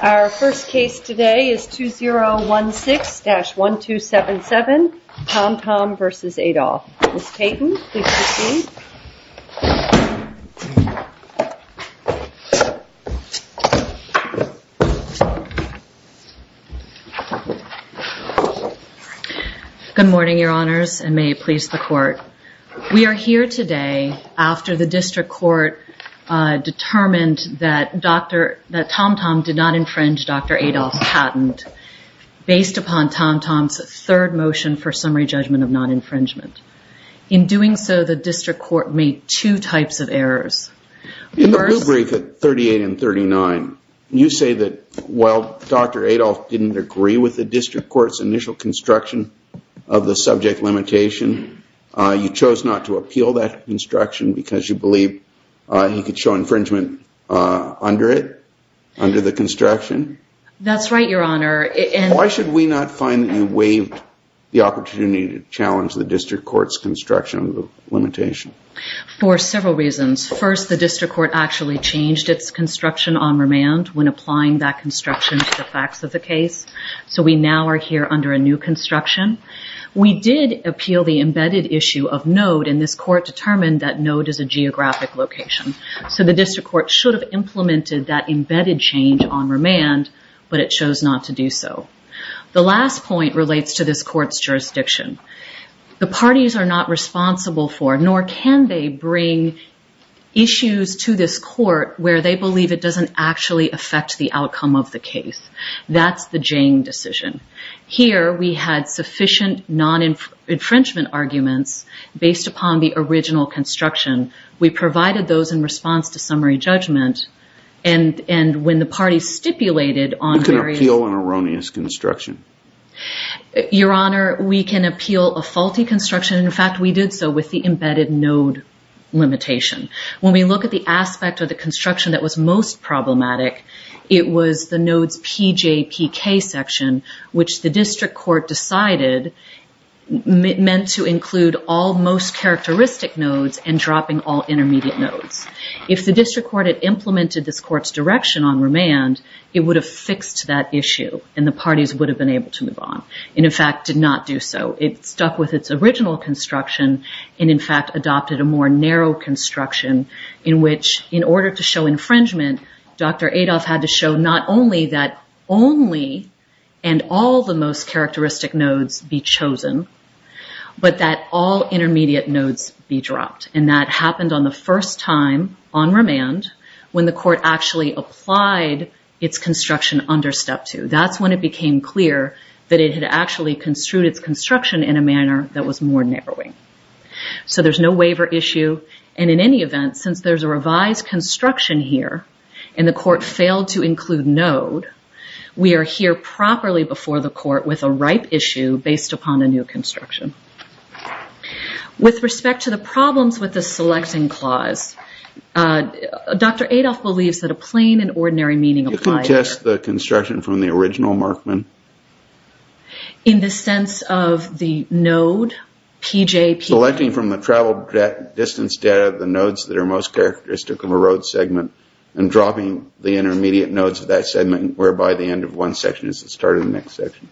Our first case today is 2016-1277 TomTom v. Adolph. Ms. Payton, please proceed. Good morning, Your Honors, and may it please the Court. We are here today after the District Court determined that TomTom did not infringe Dr. Adolph's patent based upon TomTom's third motion for summary judgment of non-infringement. In doing so, the District Court made two types of errors. In the rule brief at 38 and 39, you say that while Dr. Adolph didn't agree with the District Court's initial construction of the subject limitation, you chose not to appeal that construction because you believe he could show infringement under it, under the construction? That's right, Your Honor. Why should we not find that you waived the opportunity to challenge the District Court's construction of the limitation? For several reasons. First, the District Court actually changed its construction on remand when applying that construction to the facts of the case, so we now are here under a new construction. We did appeal the embedded issue of node, and this Court determined that node is a geographic location, so the District Court should have implemented that embedded change on remand, but it chose not to do so. The last point relates to this Court's jurisdiction. The parties are not responsible for, nor can they bring issues to this Court where they believe it doesn't actually affect the outcome of the case. That's the Jane decision. Here, we had sufficient non-infringement arguments based upon the original construction. We provided those in response to summary judgment, and when the parties stipulated on various… We can appeal an erroneous construction. Your Honor, we can appeal a faulty construction. In fact, we did so with the embedded node limitation. When we look at the aspect of the construction that was most problematic, it was the node's PJPK section, which the District Court decided meant to include all most characteristic nodes and dropping all intermediate nodes. If the District Court had implemented this Court's direction on remand, it would have fixed that issue, and the parties would have been able to move on and, in fact, did not do so. It stuck with its original construction and, in fact, adopted a more narrow construction in which, in order to show infringement, Dr. Adolph had to show not only that only and all the most characteristic nodes be chosen, but that all intermediate nodes be dropped. That happened on the first time on remand when the Court actually applied its construction under Step 2. That's when it became clear that it had actually construed its construction in a manner that was more narrowing. There's no waiver issue. In any event, since there's a revised construction here and the Court failed to include node, we are here properly before the Court with a ripe issue based upon a new construction. With respect to the problems with the selecting clause, Dr. Adolph believes that a plain and ordinary meaning... You can attest the construction from the original Markman? In the sense of the node, PJPK? Selecting from the travel distance data the nodes that are most characteristic of a road segment and dropping the intermediate nodes of that segment, whereby the end of one section is the start of the next section.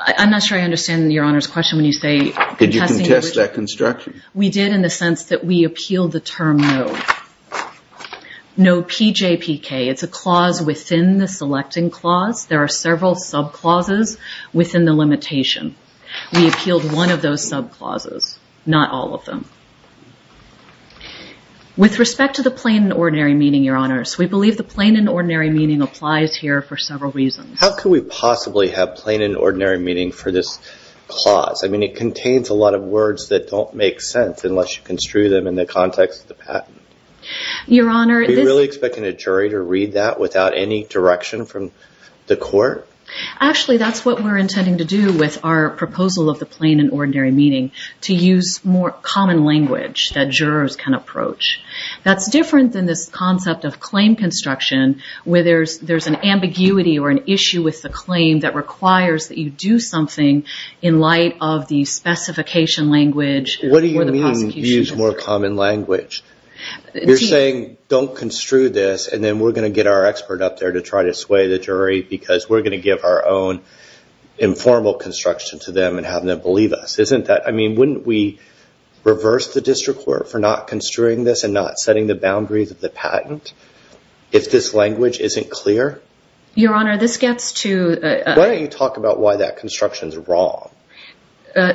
I'm not sure I understand Your Honor's question when you say... Did you contest that construction? We did in the sense that we appealed the term node. Node PJPK, it's a clause within the selecting clause. There are several sub-clauses within the limitation. We appealed one of those sub-clauses, not all of them. With respect to the plain and ordinary meaning, Your Honor, we believe the plain and ordinary meaning applies here for several reasons. How could we possibly have plain and ordinary meaning for this clause? I mean, it contains a lot of words that don't make sense unless you construe them in the context of the patent. Your Honor... Are you really expecting a jury to read that without any direction from the Court? Actually, that's what we're intending to do with our proposal of the plain and ordinary meaning, to use more common language that jurors can approach. That's different than this concept of claim construction where there's an ambiguity or an issue with the claim that requires that you do something in light of the specification language for the prosecution. What do you mean, use more common language? You're saying, don't construe this, and then we're going to get our expert up there to try to sway the jury because we're going to give our own informal construction to them and have them believe us. I mean, wouldn't we reverse the district court for not construing this and not setting the boundaries of the patent if this language isn't clear? Your Honor, this gets to... Why don't you talk about why that construction's wrong?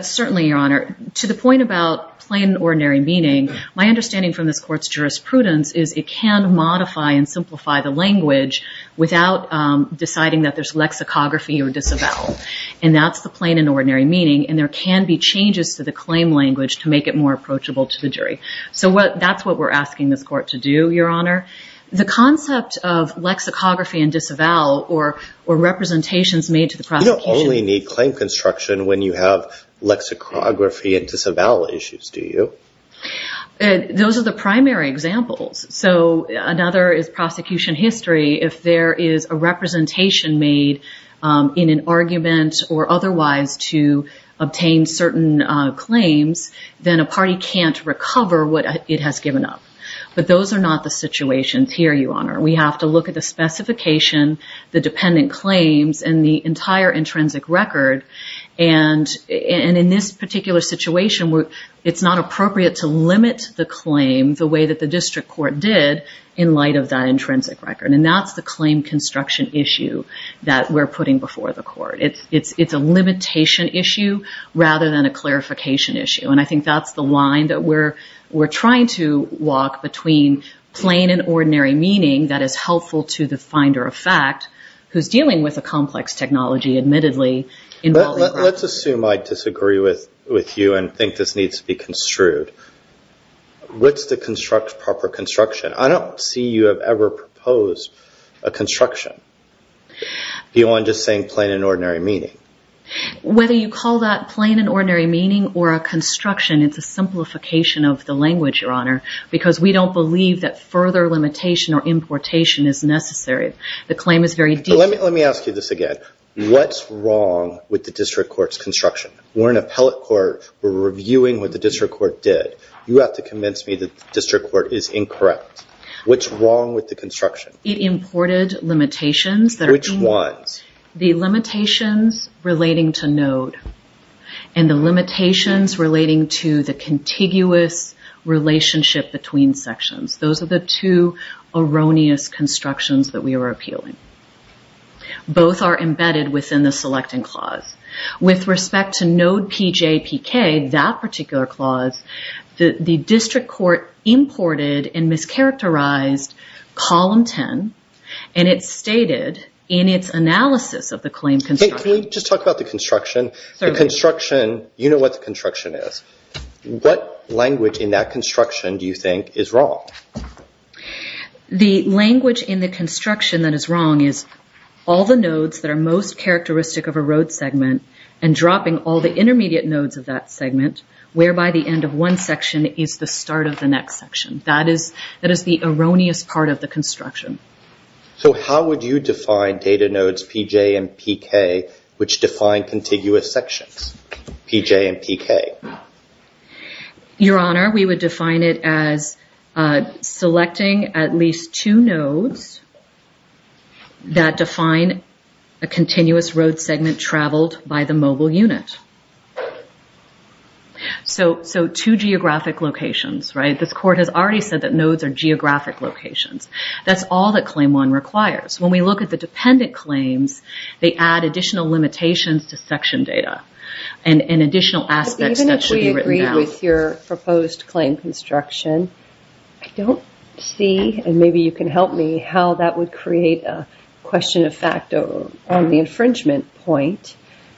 Certainly, Your Honor. To the point about plain and ordinary meaning, my understanding from this Court's jurisprudence is it can modify and simplify the language without deciding that there's lexicography or disavowal. And that's the plain and ordinary meaning. And there can be changes to the claim language to make it more approachable to the jury. So that's what we're asking this Court to do, Your Honor. The concept of lexicography and disavowal or representations made to the prosecution... You don't only need claim construction when you have lexicography and disavowal issues, do you? Those are the primary examples. So another is prosecution history. If there is a representation made in an argument or otherwise to obtain certain claims, then a party can't recover what it has given up. But those are not the situations here, Your Honor. We have to look at the specification, the dependent claims, and the entire intrinsic record. And in this particular situation, it's not appropriate to limit the claim the way that the district court did in light of that intrinsic record. And that's the claim construction issue that we're putting before the court. It's a limitation issue rather than a clarification issue. And I think that's the line that we're trying to walk between plain and ordinary meaning that is helpful to the finder of fact, who's dealing with a complex technology admittedly involving... Let's assume I disagree with you and think this needs to be construed. What's the proper construction? I don't see you have ever proposed a construction beyond just saying plain and ordinary meaning. Whether you call that plain and ordinary meaning or a construction, it's a simplification of the language, Your Honor, because we don't believe that further limitation or importation is necessary. The claim is very... Let me ask you this again. What's wrong with the district court's construction? We're in appellate court. We're reviewing what the district court did. You have to convince me that the district court is incorrect. What's wrong with the construction? It imported limitations that... Which ones? The limitations relating to node and the limitations relating to the contiguous relationship between sections. Those are the two erroneous constructions that we are appealing. Both are embedded within the selecting clause. With respect to node PJPK, that particular clause, the district court imported and mischaracterized column 10, and it stated in its analysis of the claim construction... Can we just talk about the construction? Certainly. The construction, you know what the construction is. What language in that construction do you think is wrong? The language in the construction that is wrong is all the nodes that are most characteristic of a road segment and dropping all the intermediate nodes of that segment, whereby the end of one section is the start of the next section. That is the erroneous part of the construction. So how would you define data nodes PJ and PK, which define contiguous sections, PJ and PK? Your Honor, we would define it as selecting at least two nodes that define a continuous road segment traveled by the mobile unit. So two geographic locations, right? The district court has already said that nodes are geographic locations. That's all that Claim 1 requires. When we look at the dependent claims, they add additional limitations to section data and additional aspects that should be written down. Even if we agree with your proposed claim construction, I don't see, and maybe you can help me, how that would create a question of fact on the infringement point.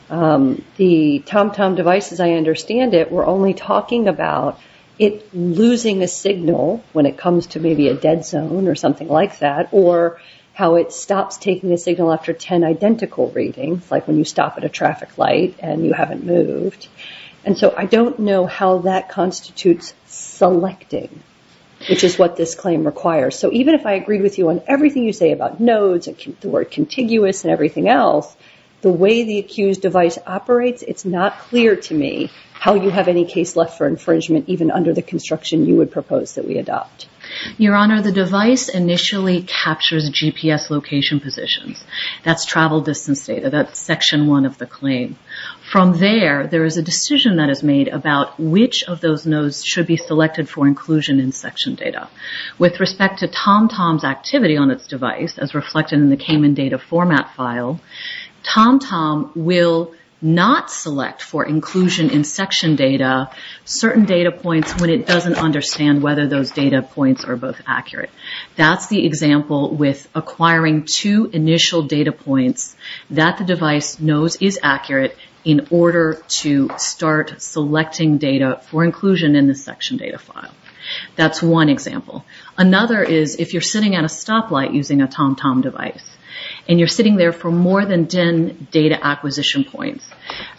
The TomTom devices, I understand it, were only talking about it losing a signal when it comes to maybe a dead zone or something like that, or how it stops taking a signal after 10 identical readings, like when you stop at a traffic light and you haven't moved. And so I don't know how that constitutes selecting, which is what this claim requires. So even if I agree with you on everything you say about nodes and the word contiguous and everything else, the way the accused device operates, it's not clear to me how you have any case left for infringement, even under the construction you would propose that we adopt. Your Honor, the device initially captures GPS location positions. That's travel distance data. That's Section 1 of the claim. From there, there is a decision that is made about which of those nodes should be selected for inclusion in section data. With respect to TomTom's activity on its device, as reflected in the Cayman data format file, TomTom will not select for inclusion in section data certain data points when it doesn't understand whether those data points are both accurate. That's the example with acquiring two initial data points that the device knows is accurate in order to start selecting data for inclusion in the section data file. That's one example. Another is if you're sitting at a stoplight using a TomTom device and you're sitting there for more than 10 data acquisition points.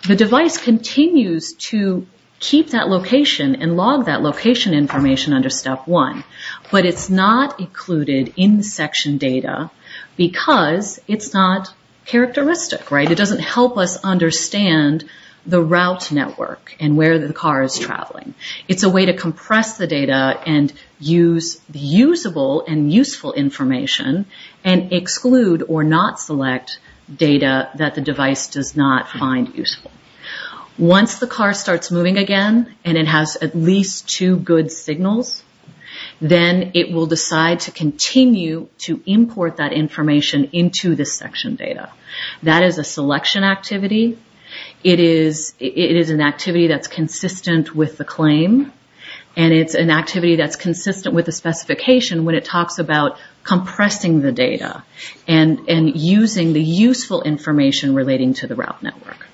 The device continues to keep that location and log that location information under Step 1, but it's not included in the section data because it's not characteristic. It doesn't help us understand the route network and where the car is traveling. It's a way to compress the data and use usable and useful information and exclude or not select data that the device does not find useful. Once the car starts moving again and it has at least two good signals, then it will decide to continue to import that information into the section data. That is a selection activity. It is an activity that's consistent with the claim and it's an activity that's consistent with the specification when it talks about compressing the data and using the useful information relating to the route network.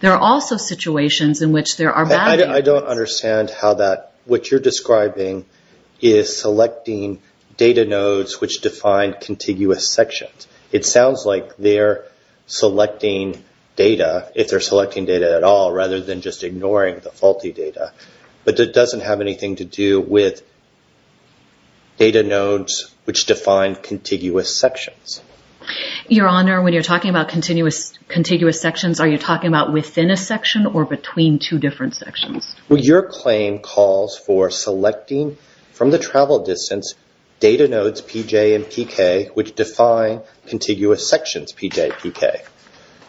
There are also situations in which there are bad... I don't understand how that, what you're describing is selecting data nodes which define contiguous sections. It sounds like they're selecting data, if they're selecting data at all, rather than just ignoring the faulty data, but it doesn't have anything to do with data nodes which define contiguous sections. Your Honor, when you're talking about contiguous sections, are you talking about within a section or between two different sections? Well, your claim calls for selecting from the travel distance data nodes PJ and PK which define contiguous sections PJ and PK.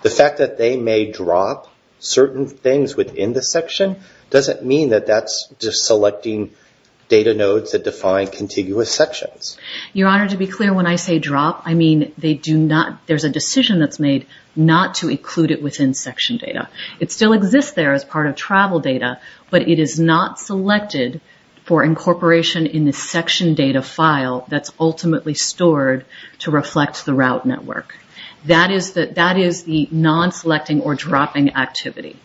The fact that they may drop certain things within the section doesn't mean that that's just selecting data nodes that define contiguous sections. Your Honor, to be clear, when I say drop, I mean they do not, there's a decision that's made not to include it within section data. It still exists there as part of travel data, but it is not selected for incorporation in the section data file that's ultimately stored to reflect the route network. That is the non-selecting or dropping activity.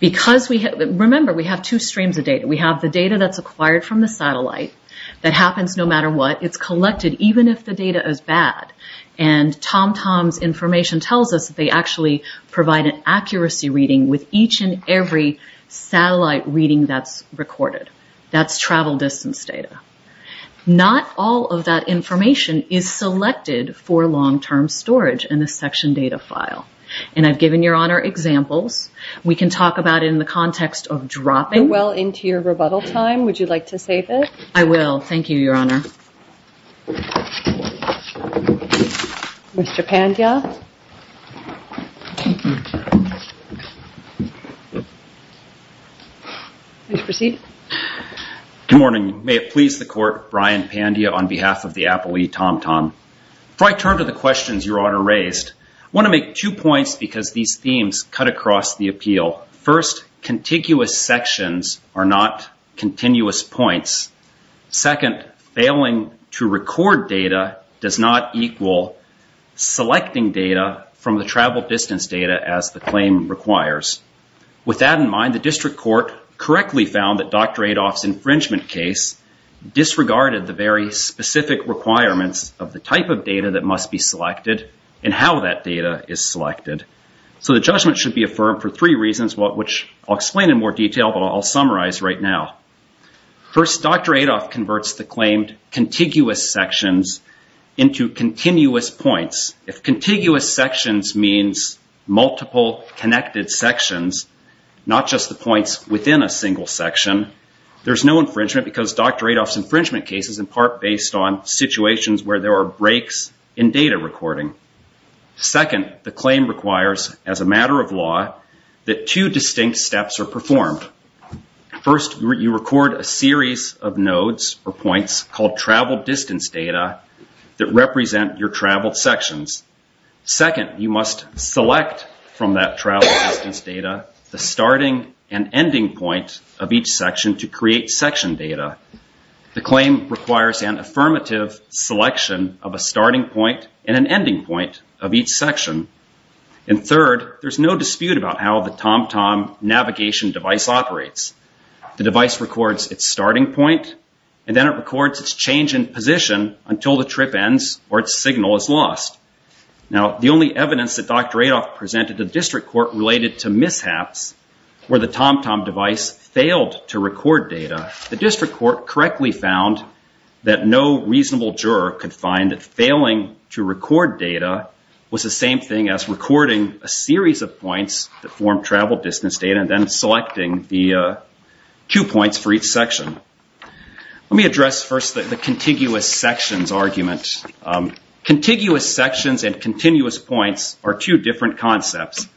Remember, we have two streams of data. We have the data that's acquired from the satellite that happens no matter what. It's collected even if the data is bad. And TomTom's information tells us that they actually provide an accuracy reading with each and every satellite reading that's recorded. That's travel distance data. Not all of that information is selected for long-term storage in the section data file. And I've given Your Honor examples. We can talk about it in the context of dropping. We're well into your rebuttal time. Would you like to save it? I will. Thank you, Your Honor. Mr. Pandya. Please proceed. Good morning. May it please the Court, Brian Pandya on behalf of the appellee TomTom. Before I turn to the questions Your Honor raised, I want to make two points because these themes cut across the appeal. First, contiguous sections are not continuous points. Second, failing to record data does not equal selecting data from the travel distance data as the claim requires. With that in mind, the district court correctly found that Dr. Adolph's infringement case disregarded the very specific requirements of the type of data that must be selected and how that data is selected. So the judgment should be affirmed for three reasons, which I'll explain in more detail, but I'll summarize right now. First, Dr. Adolph converts the claimed contiguous sections into continuous points. If contiguous sections means multiple connected sections, not just the points within a single section, there's no infringement because Dr. Adolph's infringement case is in part based on situations where there are breaks in data recording. Second, the claim requires, as a matter of law, that two distinct steps are performed. First, you record a series of nodes or points called travel distance data that represent your traveled sections. Second, you must select from that travel distance data the starting and ending point of each section to create section data. The claim requires an affirmative selection of a starting point and an ending point of each section. And third, there's no dispute about how the TomTom navigation device operates. The device records its starting point and then it records its change in position until the trip ends or its signal is lost. Now, the only evidence that Dr. Adolph presented to the district court related to mishaps where the TomTom device failed to record data, the district court correctly found that no reasonable juror could find that failing to record data was the same thing as recording a series of points that form travel distance data and then selecting the two points for each section. Let me address first the contiguous sections argument. Contiguous sections and continuous points are two different concepts.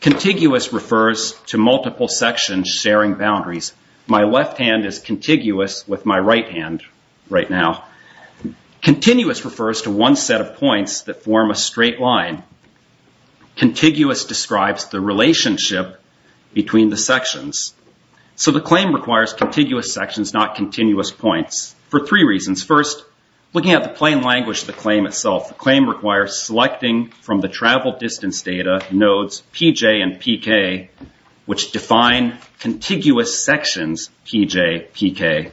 Contiguous refers to multiple sections sharing boundaries. My left hand is contiguous with my right hand right now. Continuous refers to one set of points that form a straight line. Contiguous describes the relationship between the sections. So the claim requires contiguous sections, not continuous points for three reasons. First, looking at the plain language of the claim itself, the claim requires selecting from the travel distance data nodes PJ and PK, which define contiguous sections PJ, PK.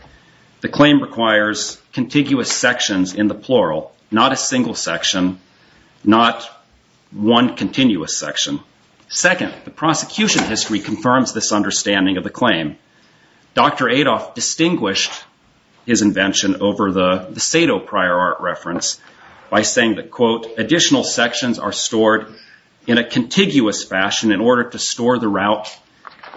The claim requires contiguous sections in the plural, not a single section, not one continuous section. Second, the prosecution history confirms this understanding of the claim. Dr. Adolph distinguished his invention over the Sado prior art reference by saying that, quote, additional sections are stored in a contiguous fashion in order to store the route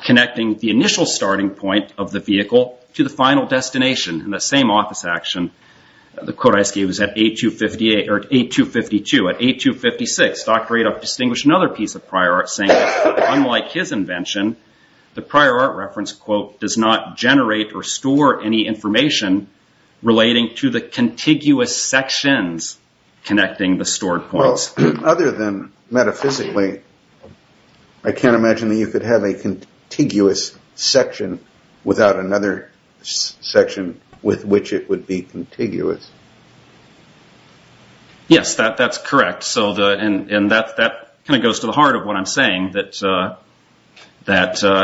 connecting the initial starting point of the vehicle to the final destination in the same office action. The quote I just gave was at 8252. At 8256, Dr. Adolph distinguished another piece of prior art saying that, unlike his invention, the prior art reference, quote, does not generate or store any information relating to the contiguous sections connecting the stored points. Well, other than metaphysically, I can't imagine that you could have a contiguous section without another section with which it would be contiguous. Yes, that's correct. That kind of goes to the heart of what I'm saying, that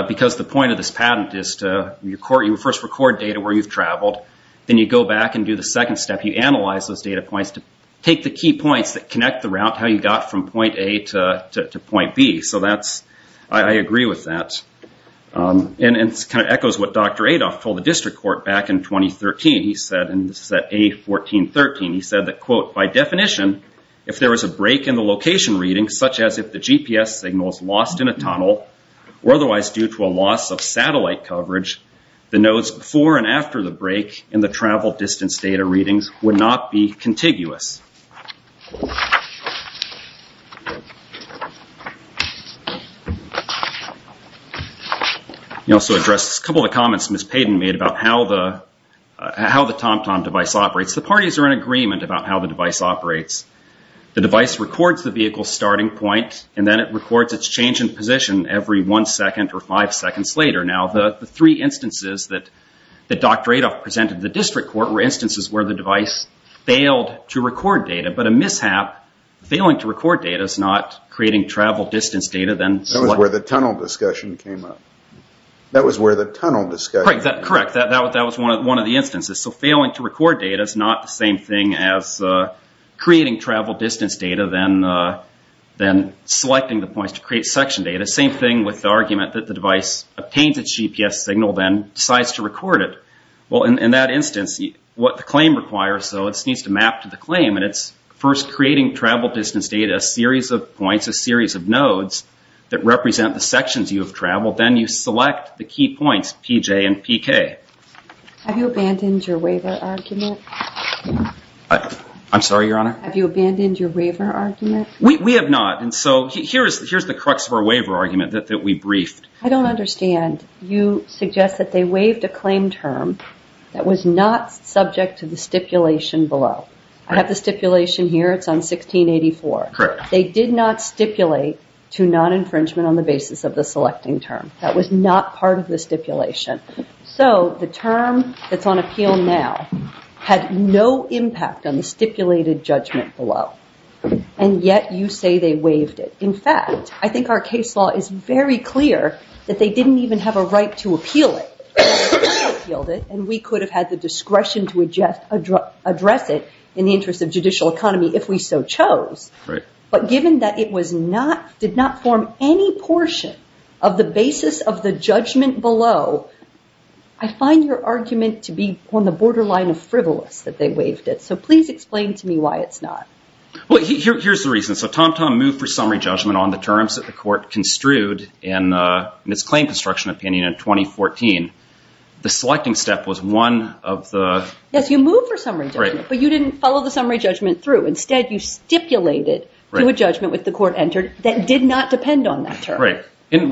because the point of this patent is to first record data where you've traveled, then you go back and do the second step. You analyze those data points to take the key points that connect the route, how you got from point A to point B. I agree with that. It kind of echoes what Dr. Adolph told the district court back in 2013. He said, and this is at A1413, he said that, quote, by definition, if there was a break in the location reading, such as if the GPS signal was lost in a tunnel or otherwise due to a loss of satellite coverage, the nodes before and after the break in the travel distance data readings would not be contiguous. He also addressed a couple of comments Ms. Payden made about how the TomTom device operates. The parties are in agreement about how the device operates. The device records the vehicle's starting point, and then it records its change in position every one second or five seconds later. Now, the three instances that Dr. Adolph presented to the district court were instances where the device failed to record data. But a mishap, failing to record data is not creating travel distance data. That was where the tunnel discussion came up. That was where the tunnel discussion came up. Correct. That was one of the instances. So failing to record data is not the same thing as creating travel distance data than selecting the points to create section data. Same thing with the argument that the device obtains its GPS signal then decides to record it. Well, in that instance, what the claim requires, so it needs to map to the claim, and it's first creating travel distance data, a series of points, a series of nodes that represent the sections you have traveled. Then you select the key points, PJ and PK. Have you abandoned your waiver argument? I'm sorry, Your Honor? Have you abandoned your waiver argument? We have not, and so here's the crux of our waiver argument that we briefed. I don't understand. You suggest that they waived a claim term that was not subject to the stipulation below. I have the stipulation here. It's on 1684. They did not stipulate to non-infringement on the basis of the selecting term. That was not part of the stipulation. So the term that's on appeal now had no impact on the stipulated judgment below, and yet you say they waived it. In fact, I think our case law is very clear that they didn't even have a right to appeal it. They appealed it, and we could have had the discretion to address it in the interest of judicial economy if we so chose. But given that it did not form any portion of the basis of the judgment below, I find your argument to be on the borderline of frivolous that they waived it. So please explain to me why it's not. Here's the reason. So TomTom moved for summary judgment on the terms that the court construed in its claim construction opinion in 2014. The selecting step was one of the- Yes, you moved for summary judgment, but you didn't follow the summary judgment through. Instead, you stipulated to a judgment with the court entered that did not depend on that term. Right.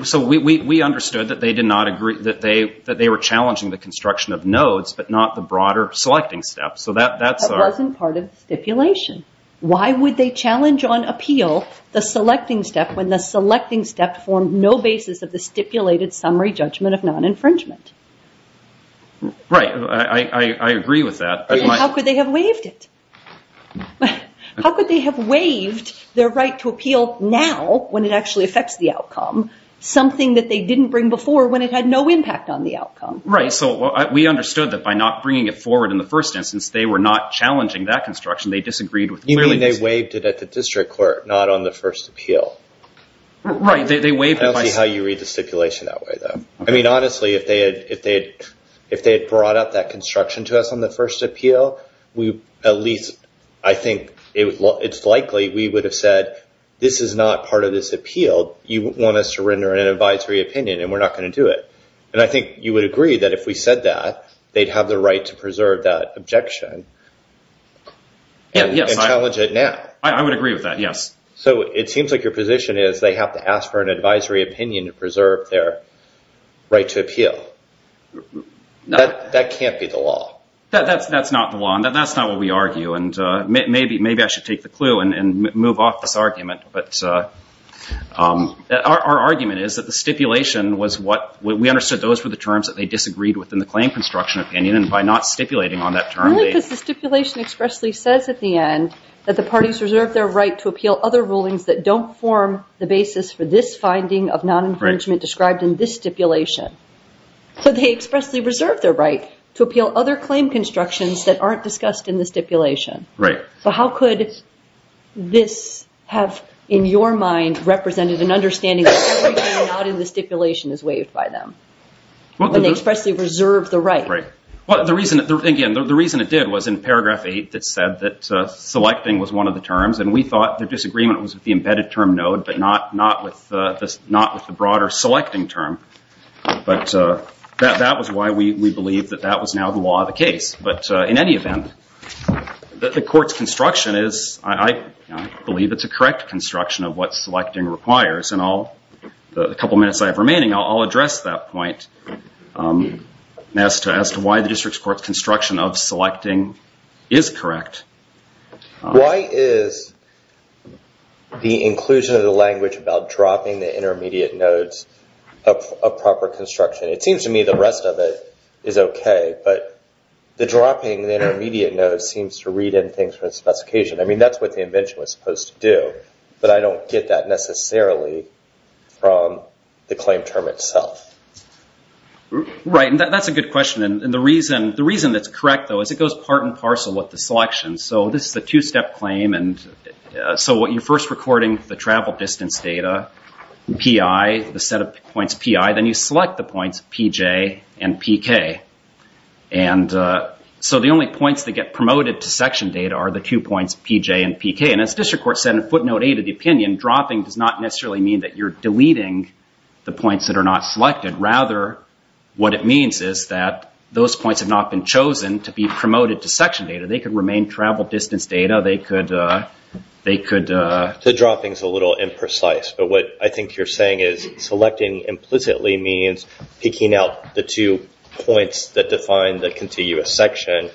So we understood that they were challenging the construction of nodes, but not the broader selecting step. That wasn't part of the stipulation. Why would they challenge on appeal the selecting step when the selecting step formed no basis of the stipulated summary judgment of non-infringement? Right. I agree with that. How could they have waived it? How could they have waived their right to appeal now when it actually affects the outcome, something that they didn't bring before when it had no impact on the outcome? Right. So we understood that by not bringing it forward in the first instance, they were not challenging that construction. They disagreed with- You mean they waived it at the district court, not on the first appeal. Right. They waived it by- I don't see how you read the stipulation that way, though. I mean, honestly, if they had brought up that construction to us on the first appeal, at least I think it's likely we would have said, this is not part of this appeal. You want us to render an advisory opinion, and we're not going to do it. And I think you would agree that if we said that, they'd have the right to preserve that objection and challenge it now. I would agree with that, yes. So it seems like your position is they have to ask for an advisory opinion to preserve their right to appeal. That can't be the law. That's not the law, and that's not what we argue. And maybe I should take the clue and move off this argument. Our argument is that the stipulation was what- we understood those were the terms that they disagreed with in the claim construction opinion, and by not stipulating on that term- Only because the stipulation expressly says at the end that the parties reserve their right to appeal other rulings that don't form the basis for this finding of non-infringement described in this stipulation. So they expressly reserve their right to appeal other claim constructions that aren't discussed in the stipulation. Right. So how could this have, in your mind, represented an understanding that everything not in the stipulation is waived by them? When they expressly reserve the right. Well, the reason- again, the reason it did was in paragraph 8, it said that selecting was one of the terms, and we thought their disagreement was with the embedded term node, but not with the broader selecting term. But that was why we believe that that was now the law of the case. But in any event, the court's construction is- I believe it's a correct construction of what selecting requires, and the couple minutes I have remaining, I'll address that point as to why the district court's construction of selecting is correct. Why is the inclusion of the language about dropping the intermediate nodes a proper construction? It seems to me the rest of it is okay, but the dropping the intermediate node seems to read in things from the specification. I mean, that's what the invention was supposed to do, but I don't get that necessarily from the claim term itself. Right, and that's a good question, and the reason that's correct, though, is it goes part and parcel with the selection. So this is a two-step claim, and so you're first recording the travel distance data, PI, the set of points PI, then you select the points PJ and PK, and so the only points that get promoted to section data are the two points PJ and PK, and as district court said in footnote eight of the opinion, dropping does not necessarily mean that you're deleting the points that are not selected. Rather, what it means is that those points have not been chosen to be promoted to section data. They could remain travel distance data. They could- The dropping's a little imprecise, but what I think you're saying is selecting implicitly means picking out the two points that define the contiguous section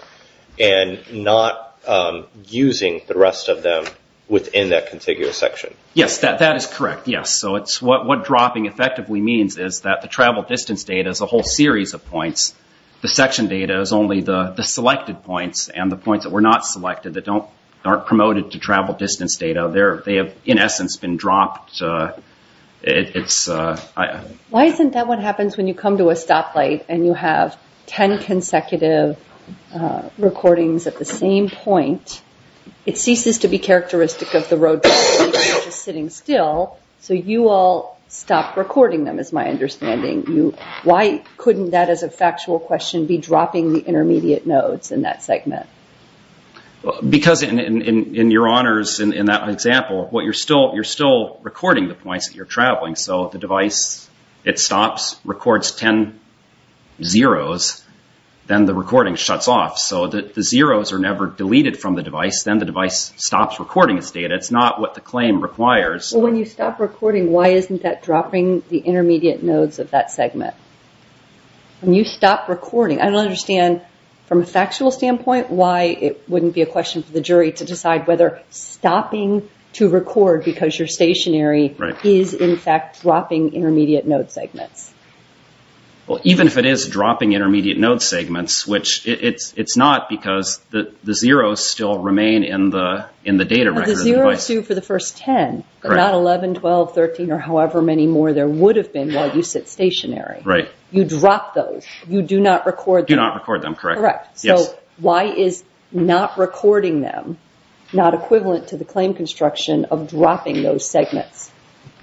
and not using the rest of them within that contiguous section. Yes, that is correct, yes. So what dropping effectively means is that the travel distance data is a whole series of points. The section data is only the selected points, and the points that were not selected that aren't promoted to travel distance data, they have, in essence, been dropped. Why isn't that what happens when you come to a stoplight and you have ten consecutive recordings at the same point? It ceases to be characteristic of the road traffic and you're just sitting still, so you all stop recording them is my understanding. Why couldn't that, as a factual question, be dropping the intermediate nodes in that segment? Because in your honors, in that example, you're still recording the points that you're traveling. So the device, it stops, records ten zeros, then the recording shuts off. So the zeros are never deleted from the device, then the device stops recording its data. It's not what the claim requires. Well, when you stop recording, why isn't that dropping the intermediate nodes of that segment? When you stop recording, I don't understand, from a factual standpoint, why it wouldn't be a question for the jury to decide whether stopping to record because you're stationary is, in fact, dropping intermediate node segments. Well, even if it is dropping intermediate node segments, which it's not because the zeros still remain in the data record of the device. Well, the zeros do for the first ten, but not 11, 12, 13, or however many more there would have been while you sit stationary. Right. You drop those. You do not record them. You do not record them, correct. Yes. So why is not recording them not equivalent to the claim construction of dropping those segments?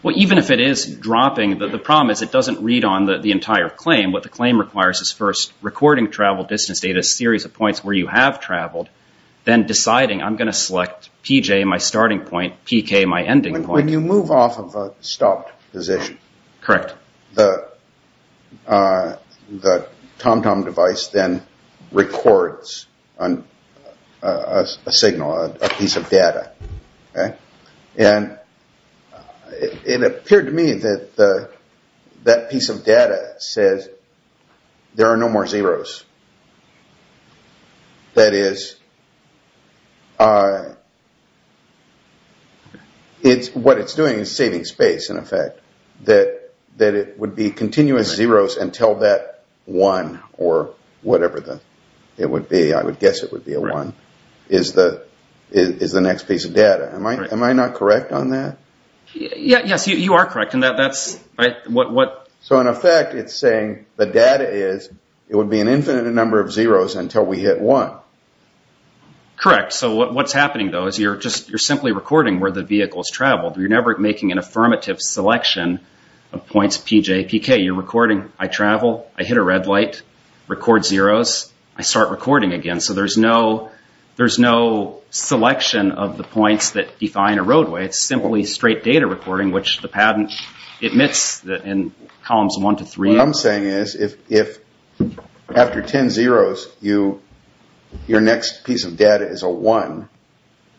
Well, even if it is dropping, the problem is it doesn't read on the entire claim. What the claim requires is first recording travel distance data, a series of points where you have traveled, then deciding I'm going to select PJ, my starting point, PK, my ending point. When you move off of a stopped position. Correct. The TomTom device then records a signal, a piece of data. And it appeared to me that that piece of data says there are no more zeros. That is, what it's doing is saving space in effect. That it would be continuous zeros until that one, or whatever it would be, I would guess it would be a one, is the next piece of data. Am I not correct on that? Yes, you are correct. So in effect, it's saying the data is, it would be an infinite number of zeros until we hit one. Correct. So what's happening, though, is you're simply recording where the vehicle has traveled. You're never making an affirmative selection of points PJ, PK. You're recording, I travel, I hit a red light, record zeros, I start recording again. So there's no selection of the points that define a roadway. It's simply straight data recording, which the patent admits in columns one to three. What I'm saying is, if after ten zeros your next piece of data is a one,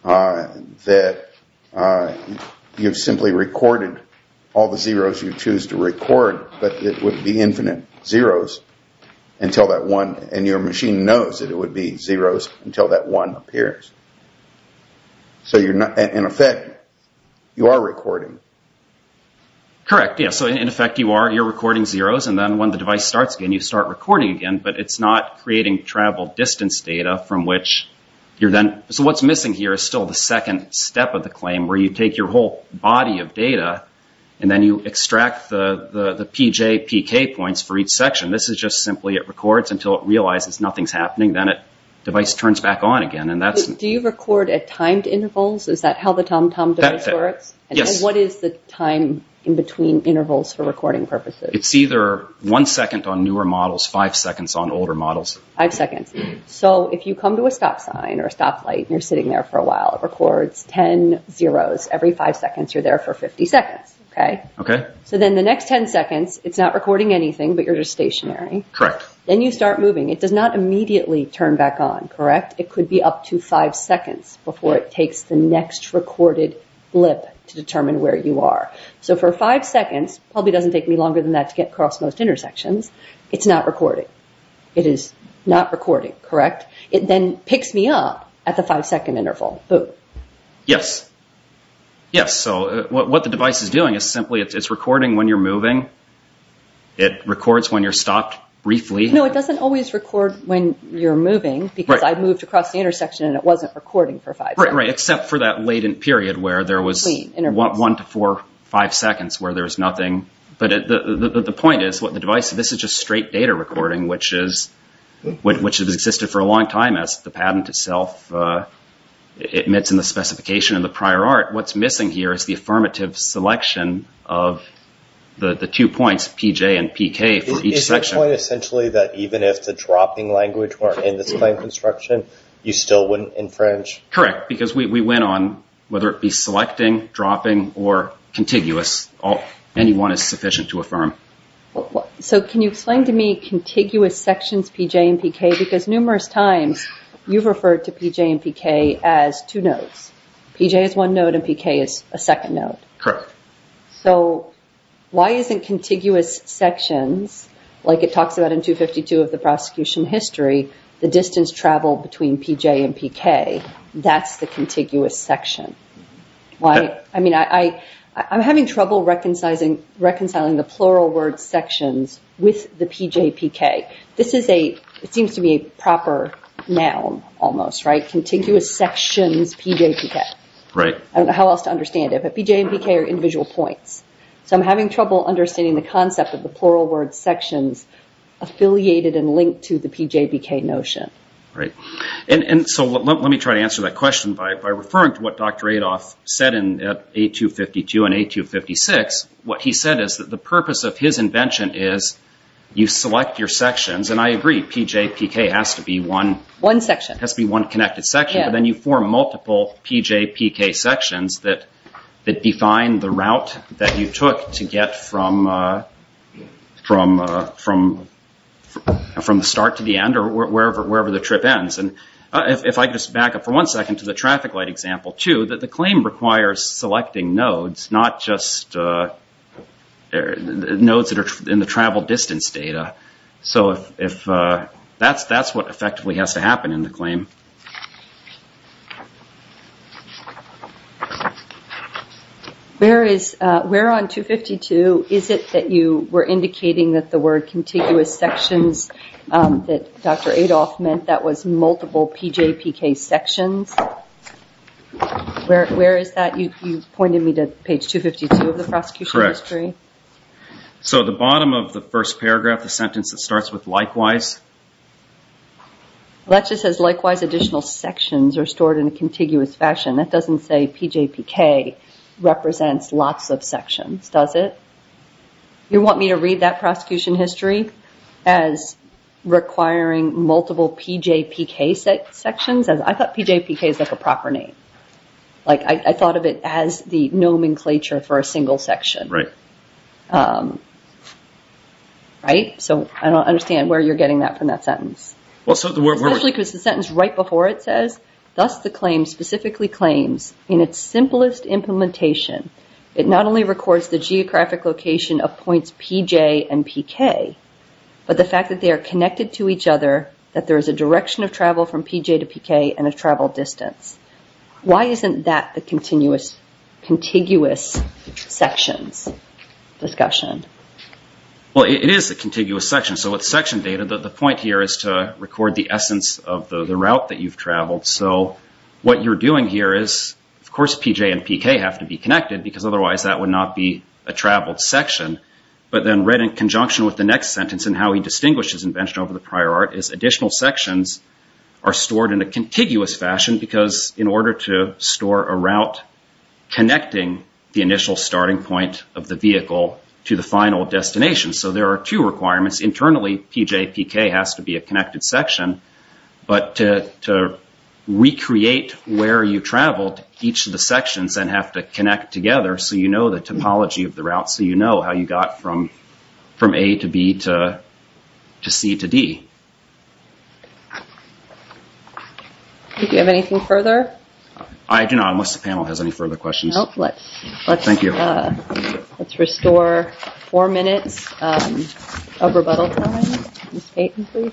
that you've simply recorded all the zeros you choose to record, but it would be infinite zeros until that one, and your machine knows that it would be zeros until that one appears. So in effect, you are recording. Correct. So in effect, you're recording zeros, and then when the device starts again, you start recording again, but it's not creating travel distance data from which you're then, so what's missing here is still the second step of the claim, where you take your whole body of data and then you extract the PJ, PK points for each section. This is just simply it records until it realizes nothing's happening. Then the device turns back on again. Do you record at timed intervals? Is that how the TomTom device works? Yes. What is the time in between intervals for recording purposes? It's either one second on newer models, five seconds on older models. Five seconds. So if you come to a stop sign or a stoplight and you're sitting there for a while, it records ten zeros every five seconds. You're there for 50 seconds, okay? Okay. So then the next ten seconds, it's not recording anything, but you're just stationary. Correct. Then you start moving. It does not immediately turn back on, correct? It could be up to five seconds before it takes the next recorded blip to determine where you are. So for five seconds, probably doesn't take me longer than that to get across most intersections, it's not recording. It is not recording, correct? It then picks me up at the five-second interval. Yes. Yes, so what the device is doing is simply it's recording when you're moving. It records when you're stopped briefly. No, it doesn't always record when you're moving because I moved across the intersection and it wasn't recording for five seconds. Right, except for that latent period where there was one to four, five seconds where there was nothing. But the point is, this is just straight data recording, which has existed for a long time as the patent itself admits in the specification of the prior art. What's missing here is the affirmative selection of the two points, PJ and PK, for each section. So you're saying essentially that even if the dropping language were in this claim construction, you still wouldn't infringe? Correct, because we went on, whether it be selecting, dropping, or contiguous, any one is sufficient to affirm. So can you explain to me contiguous sections PJ and PK? Because numerous times you've referred to PJ and PK as two nodes. PJ is one node and PK is a second node. Correct. So why isn't contiguous sections, like it talks about in 252 of the prosecution history, the distance traveled between PJ and PK, that's the contiguous section? I'm having trouble reconciling the plural word sections with the PJ, PK. This seems to be a proper noun almost, right? Contiguous sections PJ, PK. I don't know how else to understand it, but PJ and PK are individual points. So I'm having trouble understanding the concept of the plural word sections affiliated and linked to the PJ, PK notion. Let me try to answer that question by referring to what Dr. Adolph said in A252 and A256. What he said is that the purpose of his invention is you select your sections, and I agree, PJ, PK has to be one connected section, but then you form multiple PJ, PK sections that define the route that you took to get from the start to the end or wherever the trip ends. If I could just back up for one second to the traffic light example, too, that the claim requires selecting nodes, not just nodes that are in the travel distance data. So that's what effectively has to happen in the claim. Where on 252 is it that you were indicating that the word contiguous sections that Dr. Adolph meant that was multiple PJ, PK sections? Where is that? You pointed me to page 252 of the prosecution history. So the bottom of the first paragraph, the sentence that starts with likewise? That just says likewise additional sections are stored in a contiguous fashion. That doesn't say PJ, PK represents lots of sections, does it? You want me to read that prosecution history as requiring multiple PJ, PK sections? I thought PJ, PK is like a proper name. I thought of it as the nomenclature for a single section. So I don't understand where you're getting that from that sentence. Especially because the sentence right before it says, thus the claim specifically claims in its simplest implementation, it not only records the geographic location of points PJ and PK, but the fact that they are connected to each other, that there is a direction of travel from PJ to PK and a travel distance. Why isn't that the contiguous sections discussion? Well, it is a contiguous section. So with section data, the point here is to record the essence of the route that you've traveled. So what you're doing here is, of course, PJ and PK have to be connected because otherwise that would not be a traveled section. But then read in conjunction with the next sentence and how he distinguishes invention over the prior art, is additional sections are stored in a contiguous fashion because in order to store a route, connecting the initial starting point of the vehicle to the final destination. So there are two requirements. Internally, PJ, PK has to be a connected section. But to recreate where you traveled, each of the sections then have to connect together so you know the topology of the route, so you know how you got from A to B to C to D. Do you have anything further? I do not, unless the panel has any further questions. No, let's restore four minutes of rebuttal time. Ms. Payton, please.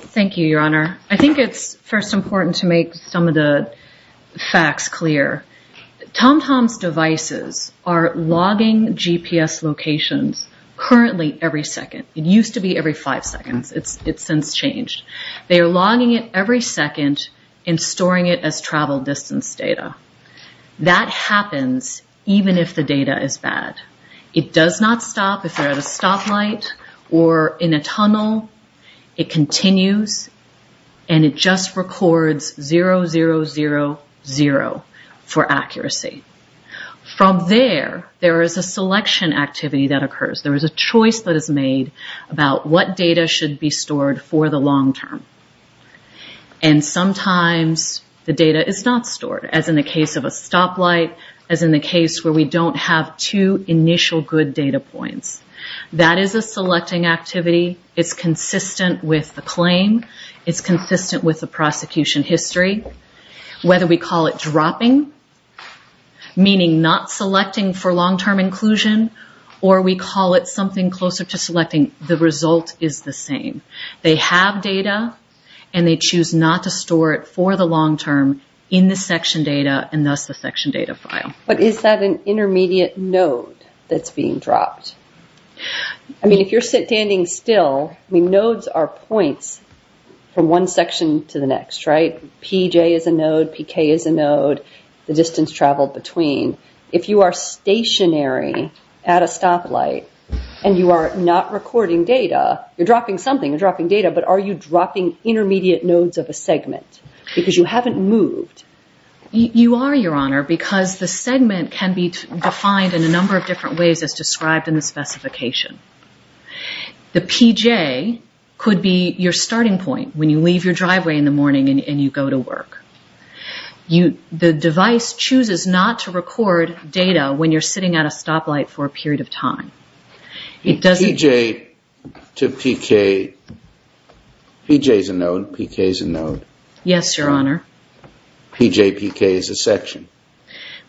Thank you, Your Honor. I think it's first important to make some of the facts clear. TomTom's devices are logging GPS locations currently every second. It used to be every five seconds. It's since changed. They are logging it every second and storing it as travel distance data. That happens even if the data is bad. It does not stop if they're at a stoplight or in a tunnel. It continues, and it just records 0, 0, 0, 0 for accuracy. From there, there is a selection activity that occurs. There is a choice that is made about what data should be stored for the long term. And sometimes the data is not stored, as in the case of a stoplight, as in the case where we don't have two initial good data points. That is a selecting activity. It's consistent with the claim. It's consistent with the prosecution history. Whether we call it dropping, meaning not selecting for long-term inclusion, or we call it something closer to selecting, the result is the same. They have data, and they choose not to store it for the long term in the section data, and thus the section data file. But is that an intermediate node that's being dropped? If you're standing still, nodes are points from one section to the next, right? PJ is a node, PK is a node, the distance traveled between. If you are stationary at a stoplight, and you are not recording data, you're dropping something, you're dropping data, but are you dropping intermediate nodes of a segment? Because you haven't moved. You are, Your Honor, because the segment can be defined in a number of different ways as described in the specification. The PJ could be your starting point when you leave your driveway in the morning and you go to work. The device chooses not to record data when you're sitting at a stoplight for a period of time. PJ to PK, PJ is a node, PK is a node. Yes, Your Honor. PJ, PK is a section.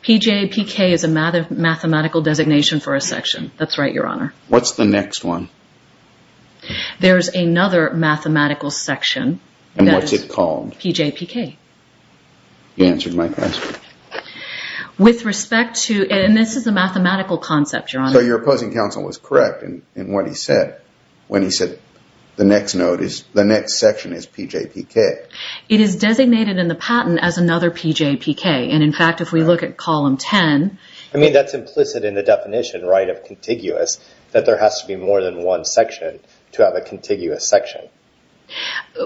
PJ, PK is a mathematical designation for a section. That's right, Your Honor. What's the next one? There's another mathematical section. And what's it called? PJ, PK. You answered my question. With respect to, and this is a mathematical concept, Your Honor. So your opposing counsel was correct in what he said when he said the next section is PJ, PK. It is designated in the patent as another PJ, PK. And, in fact, if we look at column 10. I mean, that's implicit in the definition, right, of contiguous, that there has to be more than one section to have a contiguous section.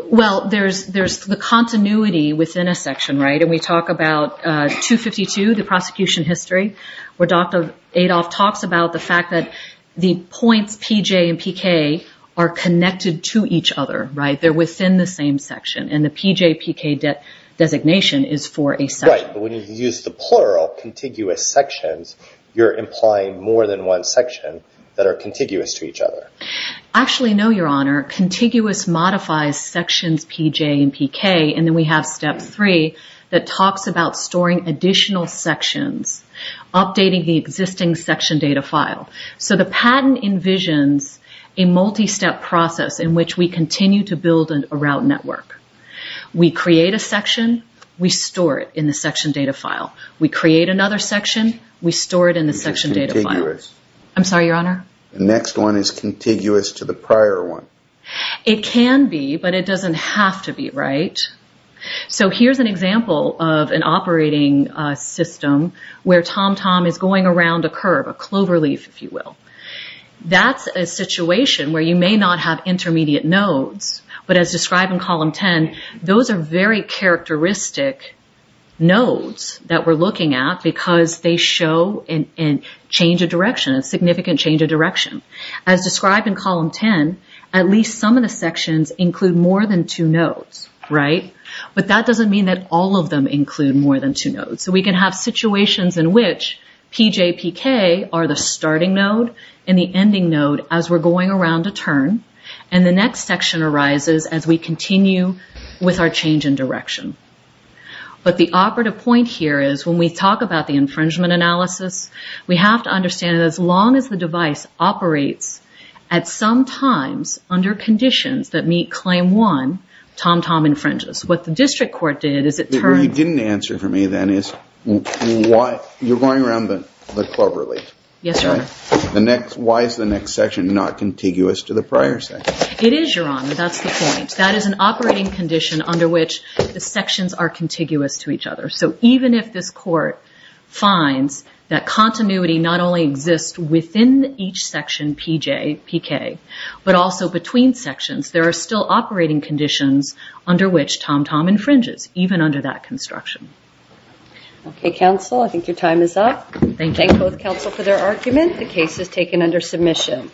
Well, there's the continuity within a section, right? And we talk about 252, the prosecution history, where Dr. Adolph talks about the fact that the points PJ and PK are connected to each other, right? They're within the same section. And the PJ, PK designation is for a section. Right, but when you use the plural, contiguous sections, you're implying more than one section that are contiguous to each other. Actually, no, Your Honor. Contiguous modifies sections PJ and PK. And then we have step three that talks about storing additional sections, updating the existing section data file. So the patent envisions a multi-step process in which we continue to build a route network. We create a section. We store it in the section data file. We create another section. We store it in the section data file. I'm sorry, Your Honor? The next one is contiguous to the prior one. It can be, but it doesn't have to be, right? So here's an example of an operating system where TomTom is going around a curve, a cloverleaf, if you will. That's a situation where you may not have intermediate nodes, but as described in Column 10, those are very characteristic nodes that we're looking at because they show a change of direction, a significant change of direction. As described in Column 10, at least some of the sections include more than two nodes, right? But that doesn't mean that all of them include more than two nodes. So we can have situations in which PJ, PK are the starting node and the ending node as we're going around a turn. And the next section arises as we continue with our change in direction. But the operative point here is when we talk about the infringement analysis, we have to understand that as long as the device operates at some times under conditions that meet Claim 1, TomTom infringes. What the district court did is it turned... What you didn't answer for me then is why... You're going around the cloverleaf. Yes, Your Honor. Why is the next section not contiguous to the prior section? It is, Your Honor. That's the point. That is an operating condition under which the sections are contiguous to each other. So even if this court finds that continuity not only exists within each section, PJ, PK, but also between sections, there are still operating conditions under which TomTom infringes, even under that construction. Okay, counsel. I think your time is up. Thank you. Thank you both, counsel, for their argument. The case is taken under submission.